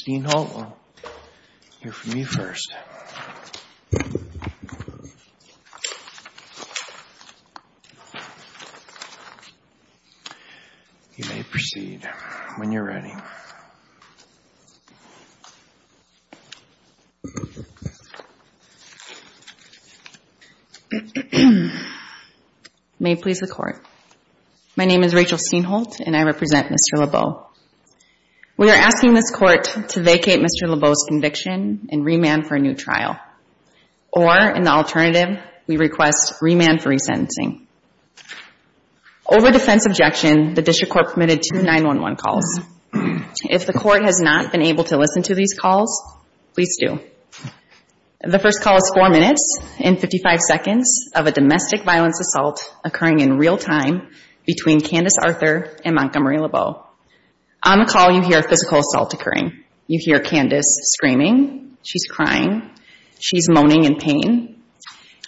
Steenholt will hear from you first. You may proceed when you're ready. May it please the Court. My name is Rachel Steenholt and I represent Mr. Lebeau. We are asking this Court to vacate Mr. Lebeau's conviction and remand for a new trial. Or in the alternative, we request remand for resentencing. Over defense objection, the District Court permitted two 9-1-1 calls. If the Court has not been able to listen to these calls, please do. The first call is four minutes and 55 seconds of a domestic violence assault occurring in Montgomery Lebeau. On the call, you hear physical assault occurring. You hear Candace screaming. She's crying. She's moaning in pain.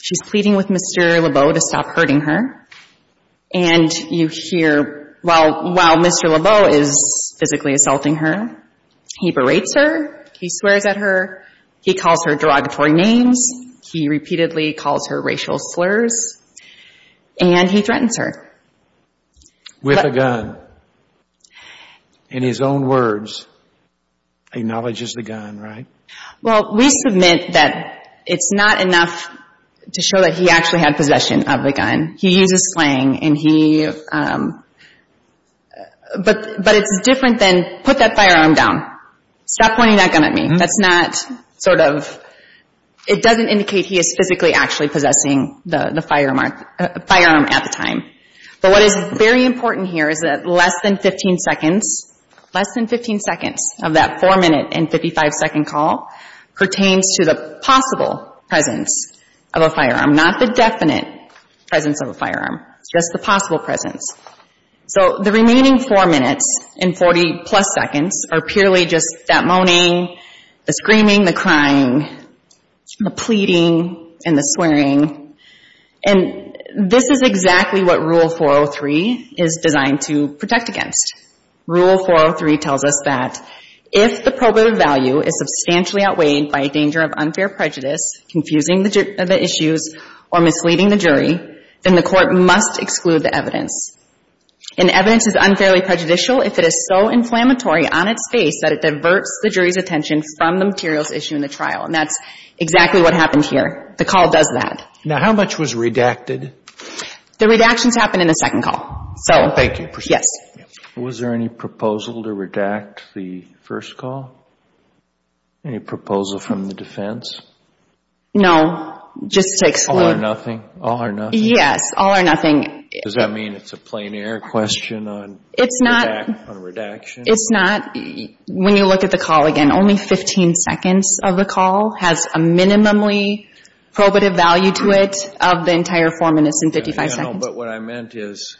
She's pleading with Mr. Lebeau to stop hurting her. And you hear, while Mr. Lebeau is physically assaulting her, he berates her, he swears at her, he calls her derogatory names, he repeatedly calls her racial slurs, and he threatens her. With a gun. In his own words, he acknowledges the gun, right? Well, we submit that it's not enough to show that he actually had possession of the gun. He uses slang and he, but it's different than, put that firearm down. Stop pointing that gun at me. That's not sort of, it doesn't indicate he is physically actually possessing the gun. But what is very important here is that less than 15 seconds, less than 15 seconds of that four minute and 55 second call pertains to the possible presence of a firearm, not the definite presence of a firearm. It's just the possible presence. So, the remaining four minutes and 40 plus seconds are purely just that moaning, the screaming, the crying, the pleading, and the swearing. And this is exactly what Rule 403 is designed to protect against. Rule 403 tells us that if the probative value is substantially outweighed by a danger of unfair prejudice, confusing the issues, or misleading the jury, then the court must exclude the evidence. And evidence is unfairly prejudicial if it is so inflammatory on its face that it diverts the jury's attention from the materials issued in the trial. And that's exactly what happened here. The call does that. Now, how much was redacted? The redactions happen in the second call. Thank you. Yes. Was there any proposal to redact the first call? Any proposal from the defense? No, just to exclude. All or nothing? All or nothing? Yes, all or nothing. Does that mean it's a plein air question on redaction? It's not. When you look at the call again, only 15 seconds of the call has a minimally probative value to it of the entire four minutes and 55 seconds. I know, but what I meant is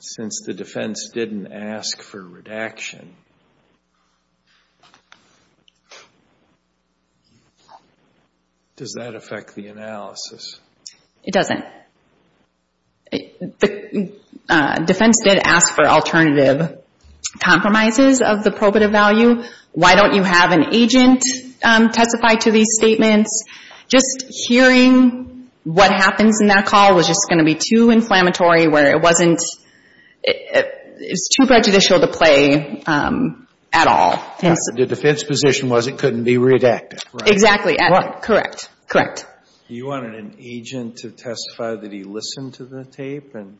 since the defense didn't ask for redaction, does that affect the analysis? It doesn't. The defense did ask for alternative compromises of the probative value. Why don't you have an agent testify to these statements? Just hearing what happens in that call was just going to be too inflammatory where it wasn't too prejudicial to play at all. The defense position was it couldn't be redacted, right? Exactly. Correct. Correct. You wanted an agent to testify that he listened to the tape and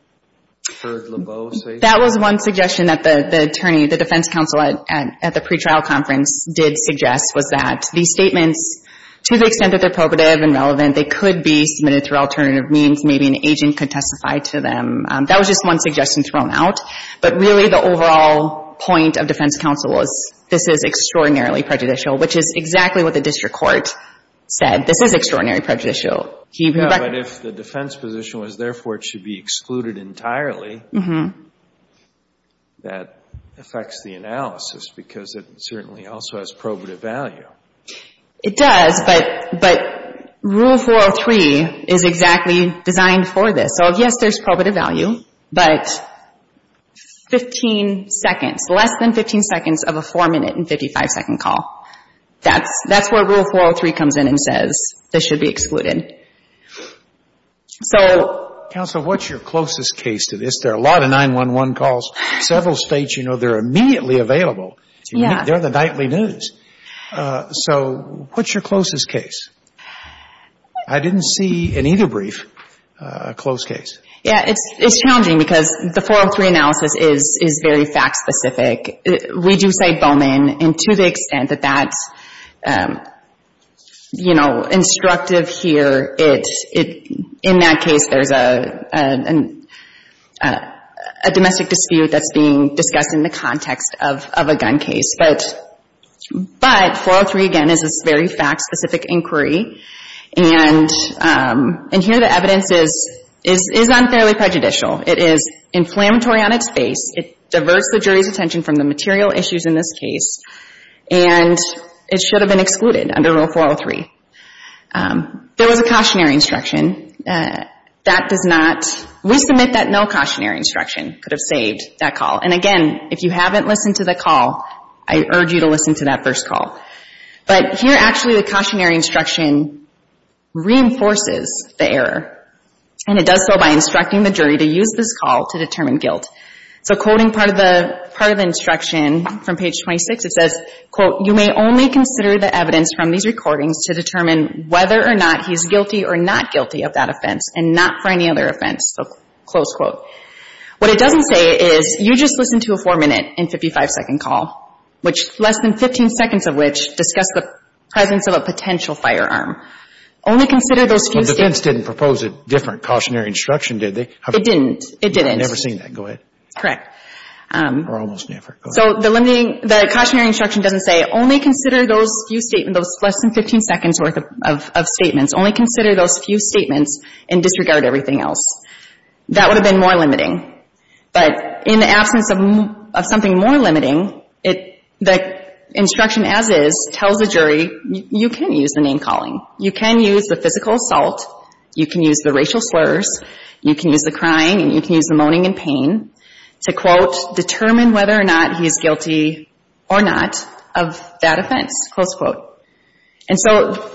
heard LeBeau say something? That was one suggestion that the attorney, the defense counsel at the pretrial conference, did suggest was that these statements, to the extent that they're probative and relevant, they could be submitted through alternative means. Maybe an agent could testify to them. That was just one suggestion thrown out. But really the overall point of defense counsel was this is extraordinarily prejudicial, which is exactly what the district court said. This is extraordinarily prejudicial. But if the defense position was therefore it should be excluded entirely, that affects the analysis because it certainly also has probative value. It does, but Rule 403 is exactly designed for this. So, yes, there's probative value, but 15 seconds, less than 15 seconds of a 4-minute and 55-second call. That's where Rule 403 comes in and says this should be excluded. Counsel, what's your closest case to this? There are a lot of 911 calls. Several states, you know, they're immediately available. They're the nightly news. So what's your closest case? I didn't see in either brief a close case. Yeah, it's challenging because the 403 analysis is very fact specific. We do cite Bowman, and to the extent that that's, you know, instructive here, in that case there's a domestic dispute that's being discussed in the context of a gun case. But 403, again, is this very fact-specific inquiry. And here the evidence is unfairly prejudicial. It is inflammatory on its face. It diverts the jury's attention from the material issues in this case, and it should have been excluded under Rule 403. There was a cautionary instruction. That does not, we submit that no cautionary instruction could have saved that call. And, again, if you haven't listened to the call, I urge you to listen to that first call. But here actually the cautionary instruction reinforces the error, and it does so by instructing the jury to use this call to determine guilt. So quoting part of the instruction from page 26, it says, quote, you may only consider the evidence from these recordings to determine whether or not he's guilty or not guilty of that offense and not for any other offense. So close quote. What it doesn't say is you just listened to a 4-minute and 55-second call, which less than 15 seconds of which discussed the presence of a potential firearm. Only consider those few statements. But defense didn't propose a different cautionary instruction, did they? It didn't. I've never seen that. Go ahead. Correct. Or almost never. Go ahead. So the limiting, the cautionary instruction doesn't say only consider those few statements, those less than 15 seconds worth of statements, only consider those few statements and disregard everything else. That would have been more limiting. But in the absence of something more limiting, the instruction as is tells the jury, you can use the name calling. You can use the physical assault. You can use the racial slurs. You can use the crying and you can use the moaning and pain to, quote, determine whether or not he is guilty or not of that offense, close quote. And so,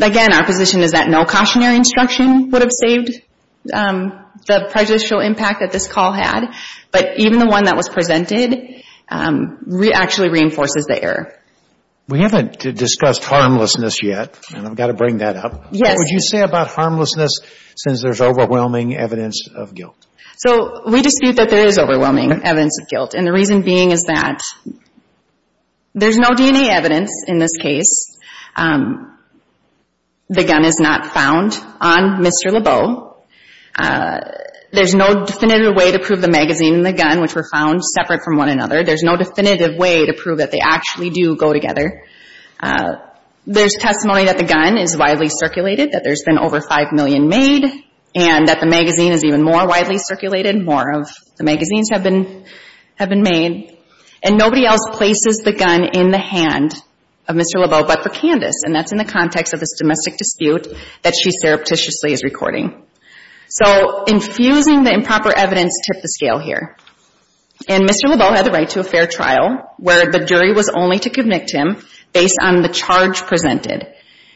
again, our position is that no cautionary instruction would have saved the prejudicial impact that this call had, but even the one that was presented actually reinforces the error. We haven't discussed harmlessness yet, and I've got to bring that up. Yes. What would you say about harmlessness since there's overwhelming evidence of guilt? So we dispute that there is overwhelming evidence of guilt, and the reason being is that there's no DNA evidence in this case. The gun is not found on Mr. Lebeau. There's no definitive way to prove the magazine and the gun, which were found separate from one another. There's no definitive way to prove that they actually do go together. There's testimony that the gun is widely circulated, that there's been over 5 million made, and that the magazine is even more widely circulated, more of the magazines have been made, and nobody else places the gun in the hand of Mr. Lebeau but for Candice, and that's in the context of this domestic dispute that she surreptitiously is recording. So infusing the improper evidence tipped the scale here, and Mr. Lebeau had the right to a fair trial where the jury was only to convict him based on the charge presented.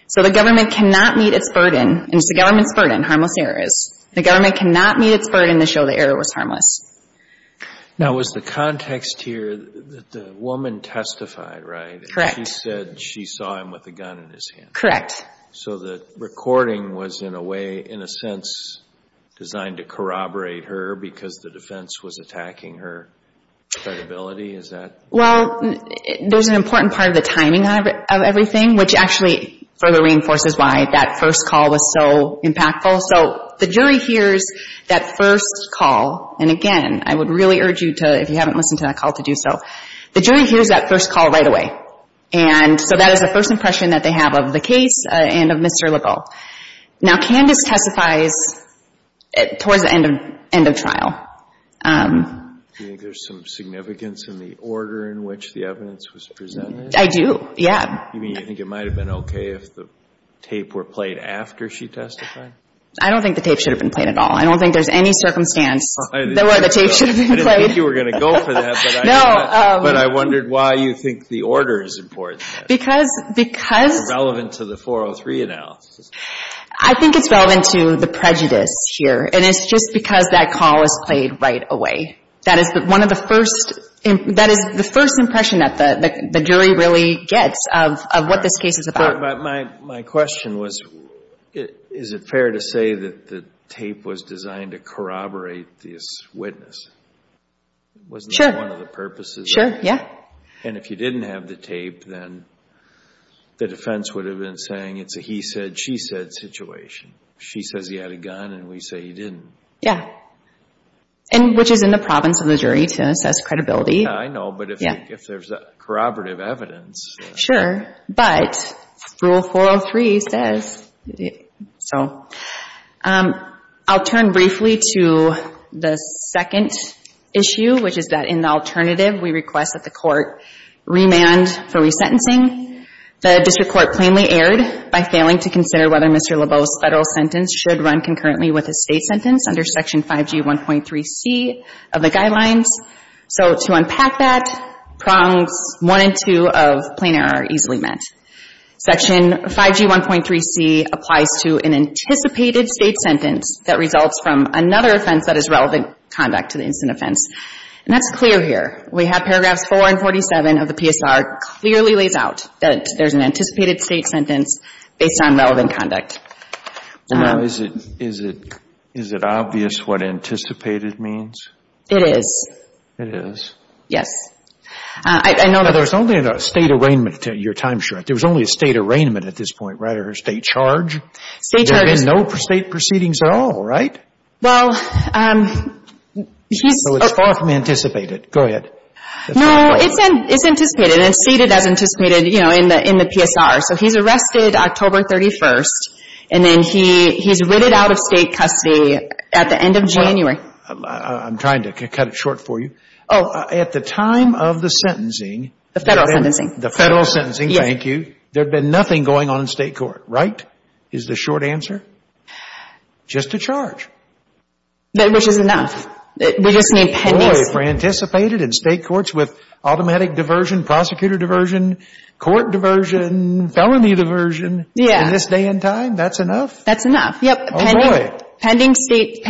So the government cannot meet its burden, and it's the government's burden, harmless errors. The government cannot meet its burden to show the error was harmless. Now, was the context here that the woman testified, right? Correct. She said she saw him with a gun in his hand. Correct. So the recording was in a way, in a sense, designed to corroborate her because the defense was attacking her credibility, is that? Well, there's an important part of the timing of everything, which actually further reinforces why that first call was so impactful. So the jury hears that first call, and again, I would really urge you to, if you haven't listened to that call, to do so. The jury hears that first call right away, and so that is the first impression that they have of the case and of Mr. Lebeau. Now, Candace testifies towards the end of trial. Do you think there's some significance in the order in which the evidence was presented? I do, yeah. You mean you think it might have been okay if the tape were played after she testified? I don't think the tape should have been played at all. I don't think there's any circumstance where the tape should have been played. I didn't think you were going to go for that, but I wondered why you think the order is important. Because... I think it's relevant to the prejudice here, and it's just because that call was played right away. That is one of the first... That is the first impression that the jury really gets of what this case is about. But my question was, is it fair to say that the tape was designed to corroborate this witness? Sure. Wasn't that one of the purposes? Sure, yeah. And if you didn't have the tape, then the defense would have been saying, it's a he said, she said situation. She says he had a gun, and we say he didn't. Yeah. And which is in the province of the jury to assess credibility. Yeah, I know. But if there's corroborative evidence... Sure. But Rule 403 says... So... I'll turn briefly to the second issue, which is that in the alternative, we request that the court remand for resentencing. The district court plainly erred by failing to consider whether Mr. Lebeau's federal sentence should run concurrently with a state sentence under Section 5G1.3c of the guidelines. So to unpack that, prongs 1 and 2 of plain error are easily met. Section 5G1.3c applies to an anticipated state sentence that results from another offense that is relevant conduct to the instant offense. And that's clear here. We have paragraphs 4 and 47 of the PSR clearly lays out that there's an anticipated state sentence based on relevant conduct. Now, is it obvious what anticipated means? It is. Yes. I know that... Now, there's only a state arraignment to your time, Sharon. There was only a state arraignment at this point, right, or a state charge. State charge. There have been no state proceedings at all, right? Well... So it's far from anticipated. Go ahead. No, it's anticipated. It's stated as anticipated, you know, in the PSR. So he's arrested October 31st, and then he's written out of state custody at the end of January. I'm trying to cut it short for you. Oh. At the time of the sentencing... The federal sentencing. The federal sentencing. Yes. Thank you. There had been nothing going on in state court, right, is the short answer? Just a charge. Which is enough. Boy, if it were anticipated in state courts with automatic diversion, prosecutor diversion, court diversion, felony diversion... Yeah. In this day and time, that's enough? That's enough. Yep. Oh, boy. Pending state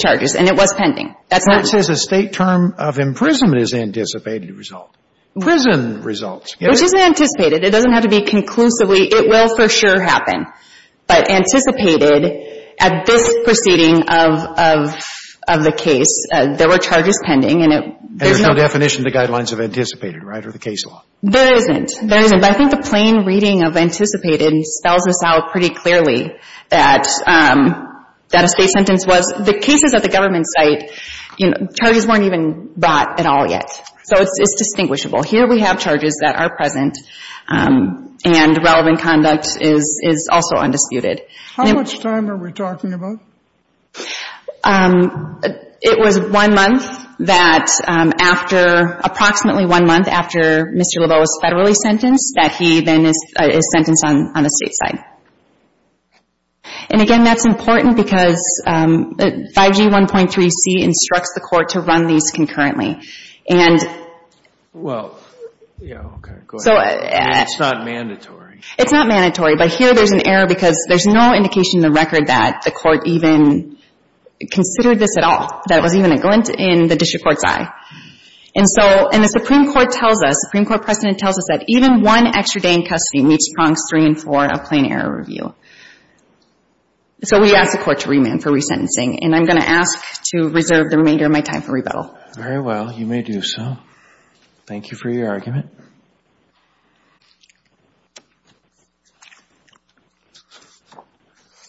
charges, and it was pending. That's not... It says a state term of imprisonment is anticipated result. Prison results. Which is anticipated. It doesn't have to be conclusively. It will for sure happen. But anticipated at this proceeding of the case, there were charges pending. And there's no definition of the guidelines of anticipated, right, or the case law? There isn't. There isn't. But I think the plain reading of anticipated spells this out pretty clearly that a state sentence was... The cases at the government site, charges weren't even brought at all yet. So it's distinguishable. Here we have charges that are present, and relevant conduct is also undisputed. How much time are we talking about? It was one month that after... Approximately one month after Mr. Lebeau was federally sentenced that he then is sentenced on the state side. And, again, that's important because 5G 1.3c instructs the court to run these concurrently. And... Well... Yeah, okay. Go ahead. So... It's not mandatory. It's not mandatory. But here there's an error because there's no indication in the record that the court even considered this at all. That it was even a glint in the district court's eye. And so... And the Supreme Court tells us... The Supreme Court precedent tells us that even one extra day in custody meets prongs three and four of plain error review. So we ask the court to remand for resentencing. And I'm going to ask to reserve the remainder of my time for rebuttal. Very well. You may do so. Thank you for your argument.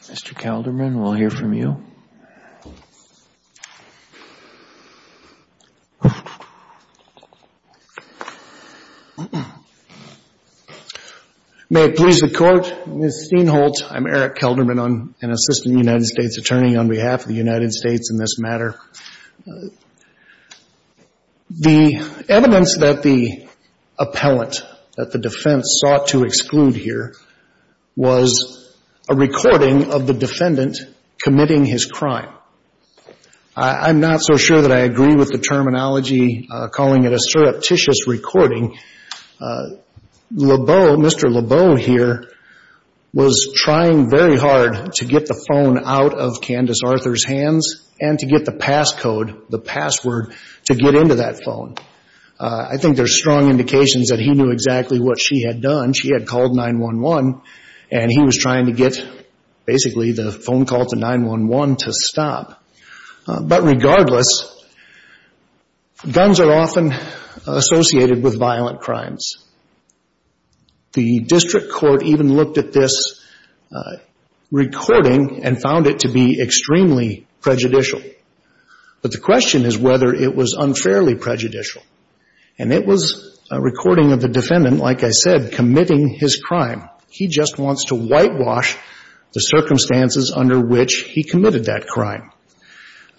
Mr. Kelderman, we'll hear from you. Thank you. May it please the Court. Ms. Steinholtz, I'm Eric Kelderman, an assistant United States attorney on behalf of the United States in this matter. The evidence that the appellant that the defense sought to exclude here was a recording of the defendant committing his crime. I'm not so sure that I agree with the terminology calling it a surreptitious recording. Mr. Lebeau here was trying very hard to get the phone out of Candace Arthur's hands and to get the passcode, the password, to get into that phone. I think there's strong indications that he knew exactly what she had done. She had called 911, and he was trying to get basically the phone call to 911 to stop. But regardless, guns are often associated with violent crimes. The district court even looked at this recording and found it to be extremely prejudicial. But the question is whether it was unfairly prejudicial. And it was a recording of the defendant, like I said, committing his crime. He just wants to whitewash the circumstances under which he committed that crime.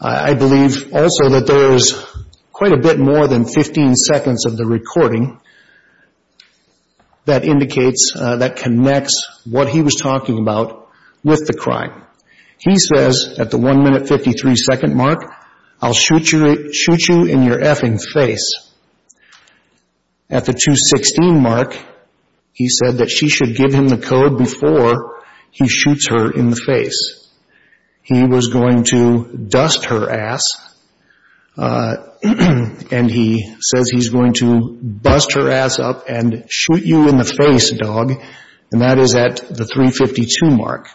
I believe also that there is quite a bit more than 15 seconds of the recording that indicates, that connects what he was talking about with the crime. He says at the 1 minute 53 second mark, I'll shoot you in your effing face. At the 2.16 mark, he said that she should give him the code before he shoots her in the face. He was going to dust her ass, and he says he's going to bust her ass up and shoot you in the face, dog. And that is at the 3.52 mark.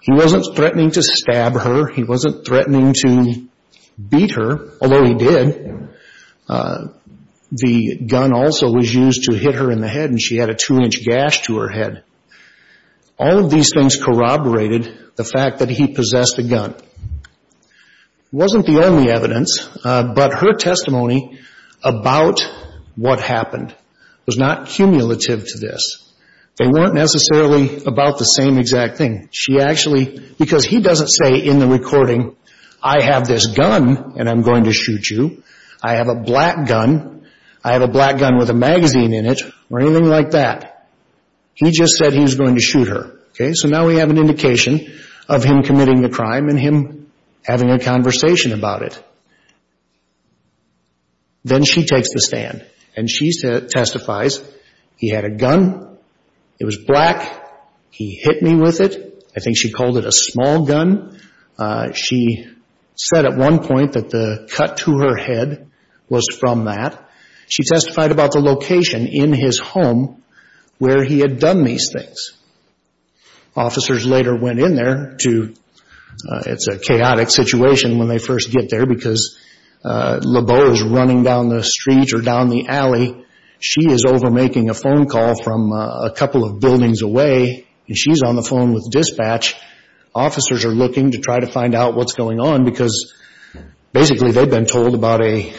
He wasn't threatening to stab her. He wasn't threatening to beat her, although he did. The gun also was used to hit her in the head, and she had a two-inch gash to her head. All of these things corroborated the fact that he possessed a gun. It wasn't the only evidence, but her testimony about what happened was not cumulative to this. They weren't necessarily about the same exact thing. She actually, because he doesn't say in the recording, I have this gun, and I'm going to shoot you. I have a black gun. I have a black gun with a magazine in it, or anything like that. He just said he was going to shoot her. Okay, so now we have an indication of him committing the crime and him having a conversation about it. Then she takes the stand, and she testifies. He had a gun. It was black. He hit me with it. I think she called it a small gun. She said at one point that the cut to her head was from that. She testified about the location in his home where he had done these things. Officers later went in there. It's a chaotic situation when they first get there because LeBeau is running down the street or down the alley. She is over making a phone call from a couple of buildings away, and she's on the phone with dispatch. Officers are looking to try to find out what's going on because basically they've been told about a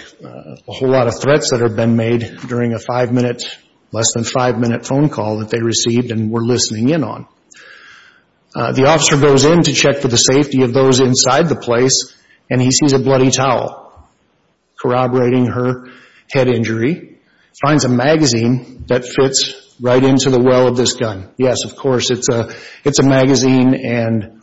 whole lot of threats that have been made during a five-minute, less than five-minute phone call that they received and were listening in on. The officer goes in to check for the safety of those inside the place, and he sees a bloody towel corroborating her head injury. He finds a magazine that fits right into the well of this gun. Yes, of course, it's a magazine, and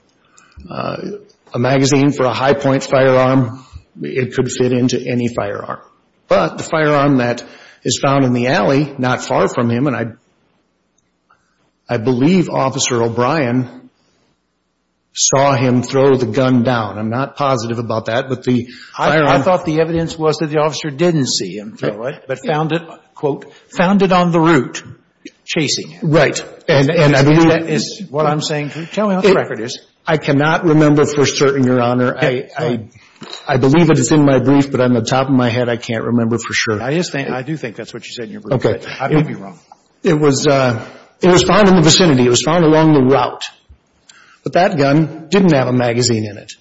a magazine for a high-point firearm, it could fit into any firearm. But the firearm that is found in the alley not far from him, and I believe Officer O'Brien saw him throw the gun down. I'm not positive about that. I thought the evidence was that the officer didn't see him throw it, but found it, quote, found it on the route, chasing him. Right. Is that what I'm saying? Tell me what the record is. I cannot remember for certain, Your Honor. I believe it is in my brief, but on the top of my head, I can't remember for sure. I do think that's what you said in your brief. Okay. I may be wrong. It was found in the vicinity. It was found along the route. But that gun didn't have a magazine in it.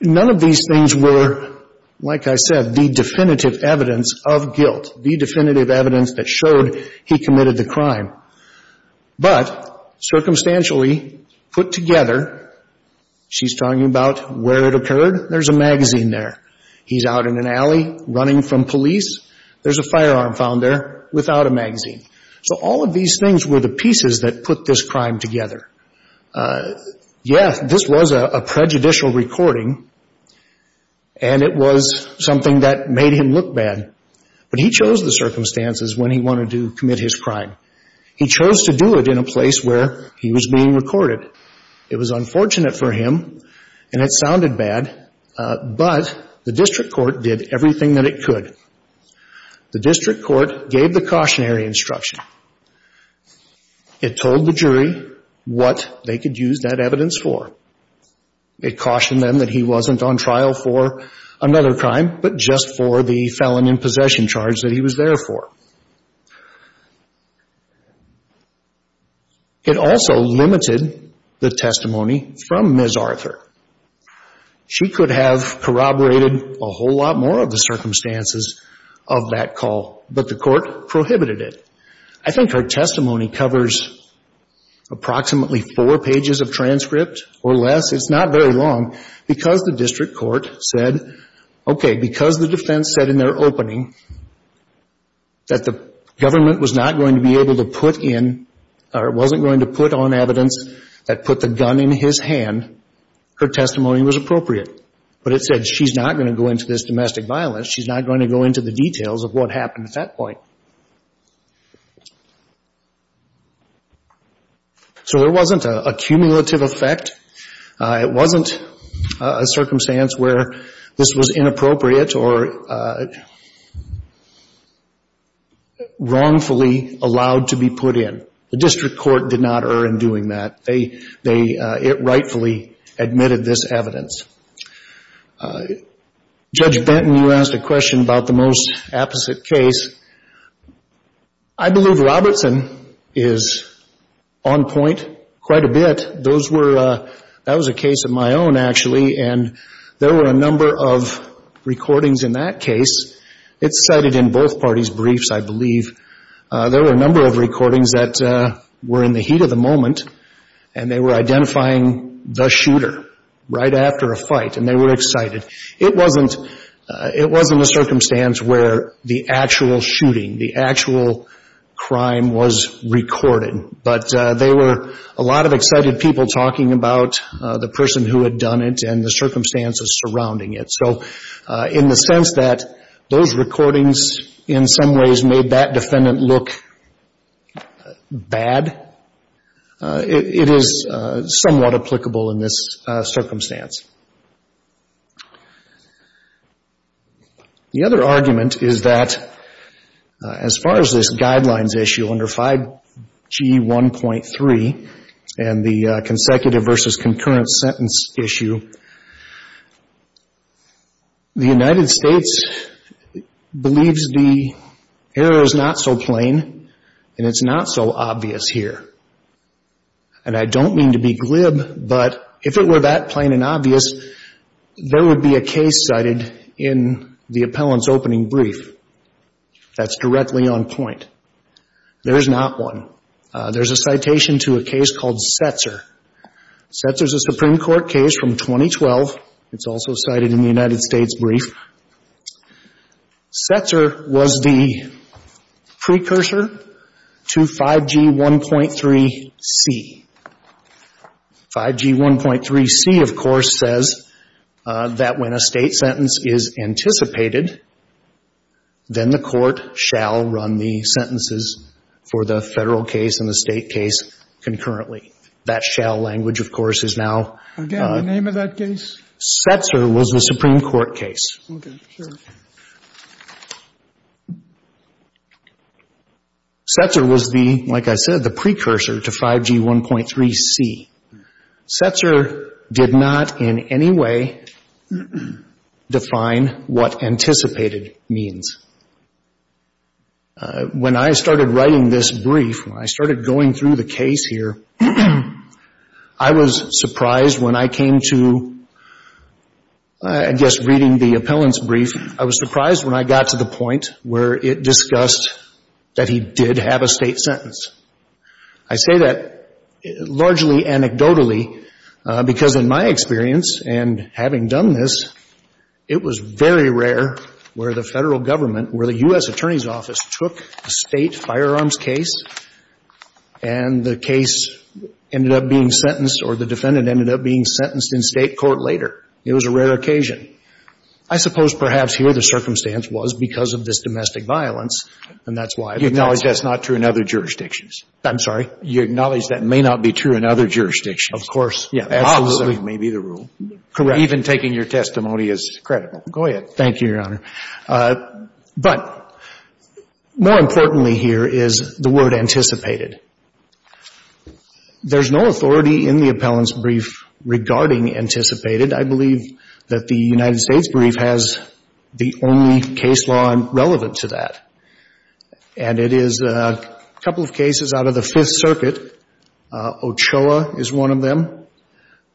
None of these things were, like I said, the definitive evidence of guilt, the definitive evidence that showed he committed the crime. But circumstantially put together, she's talking about where it occurred. There's a magazine there. He's out in an alley running from police. There's a firearm found there without a magazine. So all of these things were the pieces that put this crime together. Yes, this was a prejudicial recording, and it was something that made him look bad. But he chose the circumstances when he wanted to commit his crime. He chose to do it in a place where he was being recorded. It was unfortunate for him, and it sounded bad, but the district court did everything that it could. The district court gave the cautionary instruction. It told the jury what they could use that evidence for. It cautioned them that he wasn't on trial for another crime, but just for the felon in possession charge that he was there for. It also limited the testimony from Ms. Arthur. She could have corroborated a whole lot more of the circumstances of that call, but the court prohibited it. I think her testimony covers approximately four pages of transcript or less. It's not very long. Because the district court said, okay, because the defense said in their opening that the government was not going to be able to put in or wasn't going to put on evidence that put the gun in his hand, her testimony was appropriate. But it said she's not going to go into this domestic violence. She's not going to go into the details of what happened at that point. So there wasn't a cumulative effect. It wasn't a circumstance where this was inappropriate or wrongfully allowed to be put in. The district court did not err in doing that. It rightfully admitted this evidence. Judge Benton, you asked a question about the most apposite case. I believe Robertson is on point quite a bit. That was a case of my own, actually, and there were a number of recordings in that case. It's cited in both parties' briefs, I believe. There were a number of recordings that were in the heat of the moment, and they were identifying the shooter right after a fight, and they were excited. It wasn't a circumstance where the actual shooting, the actual crime was recorded, but there were a lot of excited people talking about the person who had done it and the circumstances surrounding it. So in the sense that those recordings in some ways made that defendant look bad, it is somewhat applicable in this circumstance. The other argument is that as far as this guidelines issue under 5G1.3 and the consecutive versus concurrent sentence issue, the United States believes the error is not so plain and it's not so obvious here. And I don't mean to be glib, but if it were that plain and obvious, there would be a case cited in the appellant's opening brief that's directly on point. There is not one. There's a citation to a case called Setzer. Setzer is a Supreme Court case from 2012. It's also cited in the United States brief. Setzer was the precursor to 5G1.3c. 5G1.3c, of course, says that when a State sentence is anticipated, then the Court shall run the sentences for the Federal case and the State case concurrently. That shall language, of course, is now. Again, the name of that case? Setzer was a Supreme Court case. Okay. Sure. Setzer was the, like I said, the precursor to 5G1.3c. Setzer did not in any way define what anticipated means. When I started writing this brief, when I started going through the case here, I was surprised when I came to, I guess, reading the appellant's brief, I was surprised when I got to the point where it discussed that he did have a State sentence. I say that largely anecdotally because in my experience and having done this, it was very rare where the Federal Government, where the U.S. Attorney's Office took a State firearms case and the case ended up being sentenced or the defendant ended up being sentenced in State court later. It was a rare occasion. I suppose perhaps here the circumstance was because of this domestic violence and that's why. You acknowledge that's not true in other jurisdictions? I'm sorry? You acknowledge that may not be true in other jurisdictions? Absolutely. That may be the rule. Correct. Even taking your testimony is credible. Go ahead. Thank you, Your Honor. But more importantly here is the word anticipated. There's no authority in the appellant's brief regarding anticipated. I believe that the United States brief has the only case law relevant to that. And it is a couple of cases out of the Fifth Circuit. Ochoa is one of them.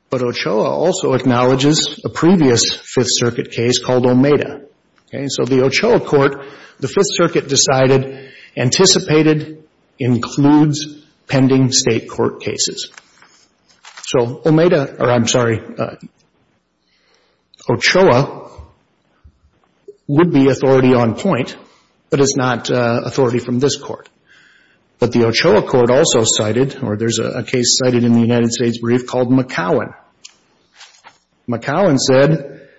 But Ochoa also acknowledges a previous Fifth Circuit case called Omeda. Okay? So the Ochoa court, the Fifth Circuit decided anticipated includes pending State court cases. So Omeda, or I'm sorry, Ochoa would be authority on point, but it's not authority from this court. But the Ochoa court also cited, or there's a case cited in the United States brief called McCowan. McCowan said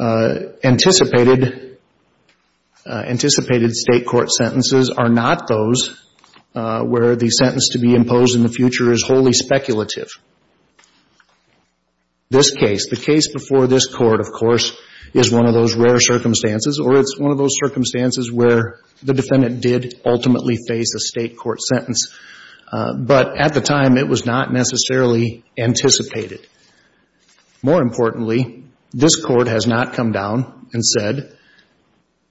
anticipated State court sentences are not those where the sentence to be imposed in the future is wholly speculative. This case, the case before this court, of course, is one of those rare circumstances, or it's one of those circumstances where the defendant did ultimately face a State court sentence. But at the time, it was not necessarily anticipated. More importantly, this court has not come down and said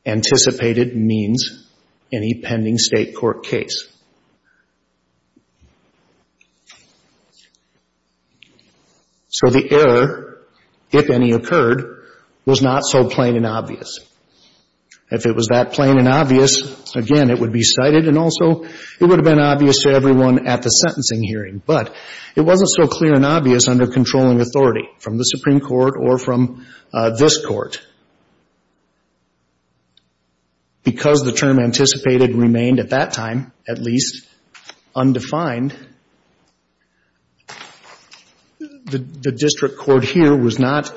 anticipated means any pending State court case. So the error, if any occurred, was not so plain and obvious. If it was that plain and obvious, again, it would be cited and also it would have been obvious to everyone at the sentencing hearing. But it wasn't so clear and obvious under controlling authority from the Supreme Court or from this court. Because the term anticipated remained at that time at least undefined, the district court here was not,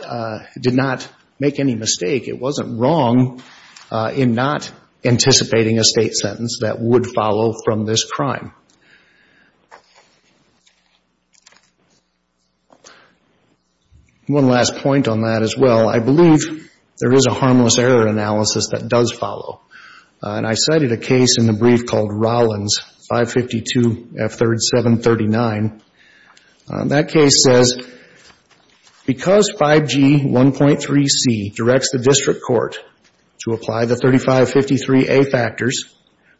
did not make any mistake. It wasn't wrong in not anticipating a State sentence that would follow from this crime. One last point on that as well. I believe there is a harmless error analysis that does follow. And I cited a case in the brief called Rollins, 552F3739. That case says because 5G1.3c directs the district court to apply the 3553A factors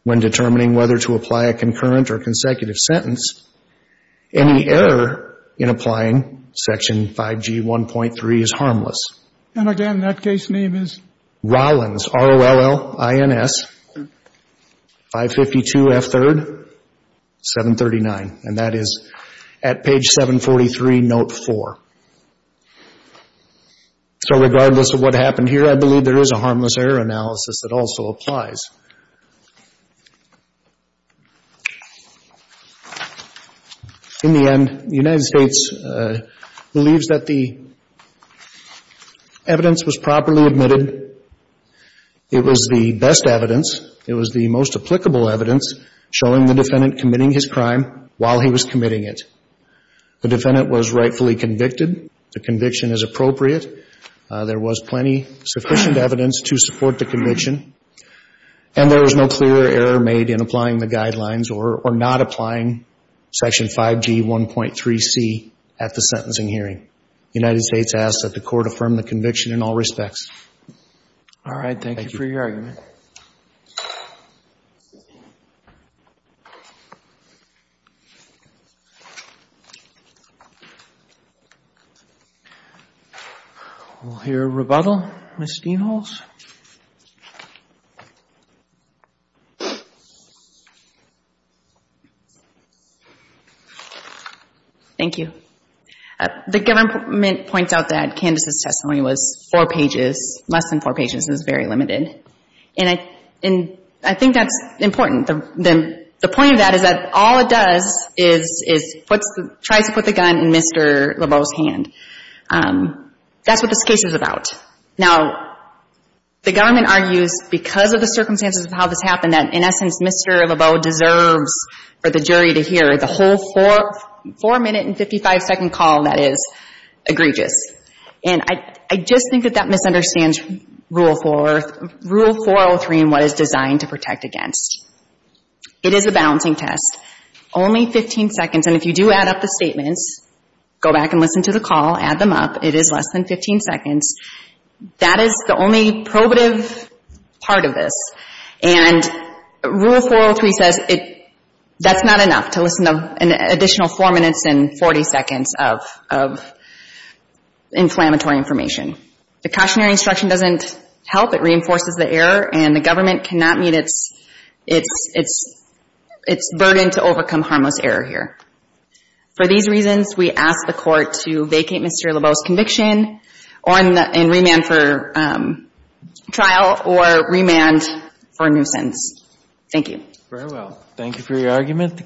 when determining whether to apply a concurrent or consecutive sentence, any error in applying section 5G1.3 is harmless. And again, that case name is? Rollins, R-O-L-L-I-N-S, 552F3739. And that is at page 743, note 4. So regardless of what happened here, I believe there is a harmless error analysis that also applies. In the end, the United States believes that the evidence was properly admitted. It was the best evidence. It was the most applicable evidence showing the defendant committing his crime while he was committing it. The defendant was rightfully convicted. The conviction is appropriate. There was plenty sufficient evidence to support the conviction. And there was no clear error made in applying the guidelines or not applying section 5G1.3c at the sentencing hearing. The United States asks that the court affirm the conviction in all respects. All right. Thank you for your argument. Thank you. We'll hear a rebuttal. Ms. Steenholz? Thank you. The government points out that Candace's testimony was four pages, less than four pages. This is very limited. And I think that's important. The point of that is that all it does is tries to put the gun in Mr. Lebeau's hand. That's what this case is about. Now, the government argues because of the circumstances of how this happened that, in essence, Mr. Lebeau deserves for the jury to hear the whole four-minute and 55-second call that is egregious. And I just think that that misunderstands Rule 403 and what it's designed to protect against. It is a balancing test. Only 15 seconds. And if you do add up the statements, go back and listen to the call, add them up, it is less than 15 seconds. That is the only probative part of this. And Rule 403 says that's not enough to listen to an additional four minutes and 40 seconds of inflammatory information. The cautionary instruction doesn't help. It reinforces the error. And the government cannot meet its burden to overcome harmless error here. For these reasons, we ask the Court to vacate Mr. Lebeau's conviction and remand for trial or remand for nuisance. Thank you. Very well. Thank you for your argument.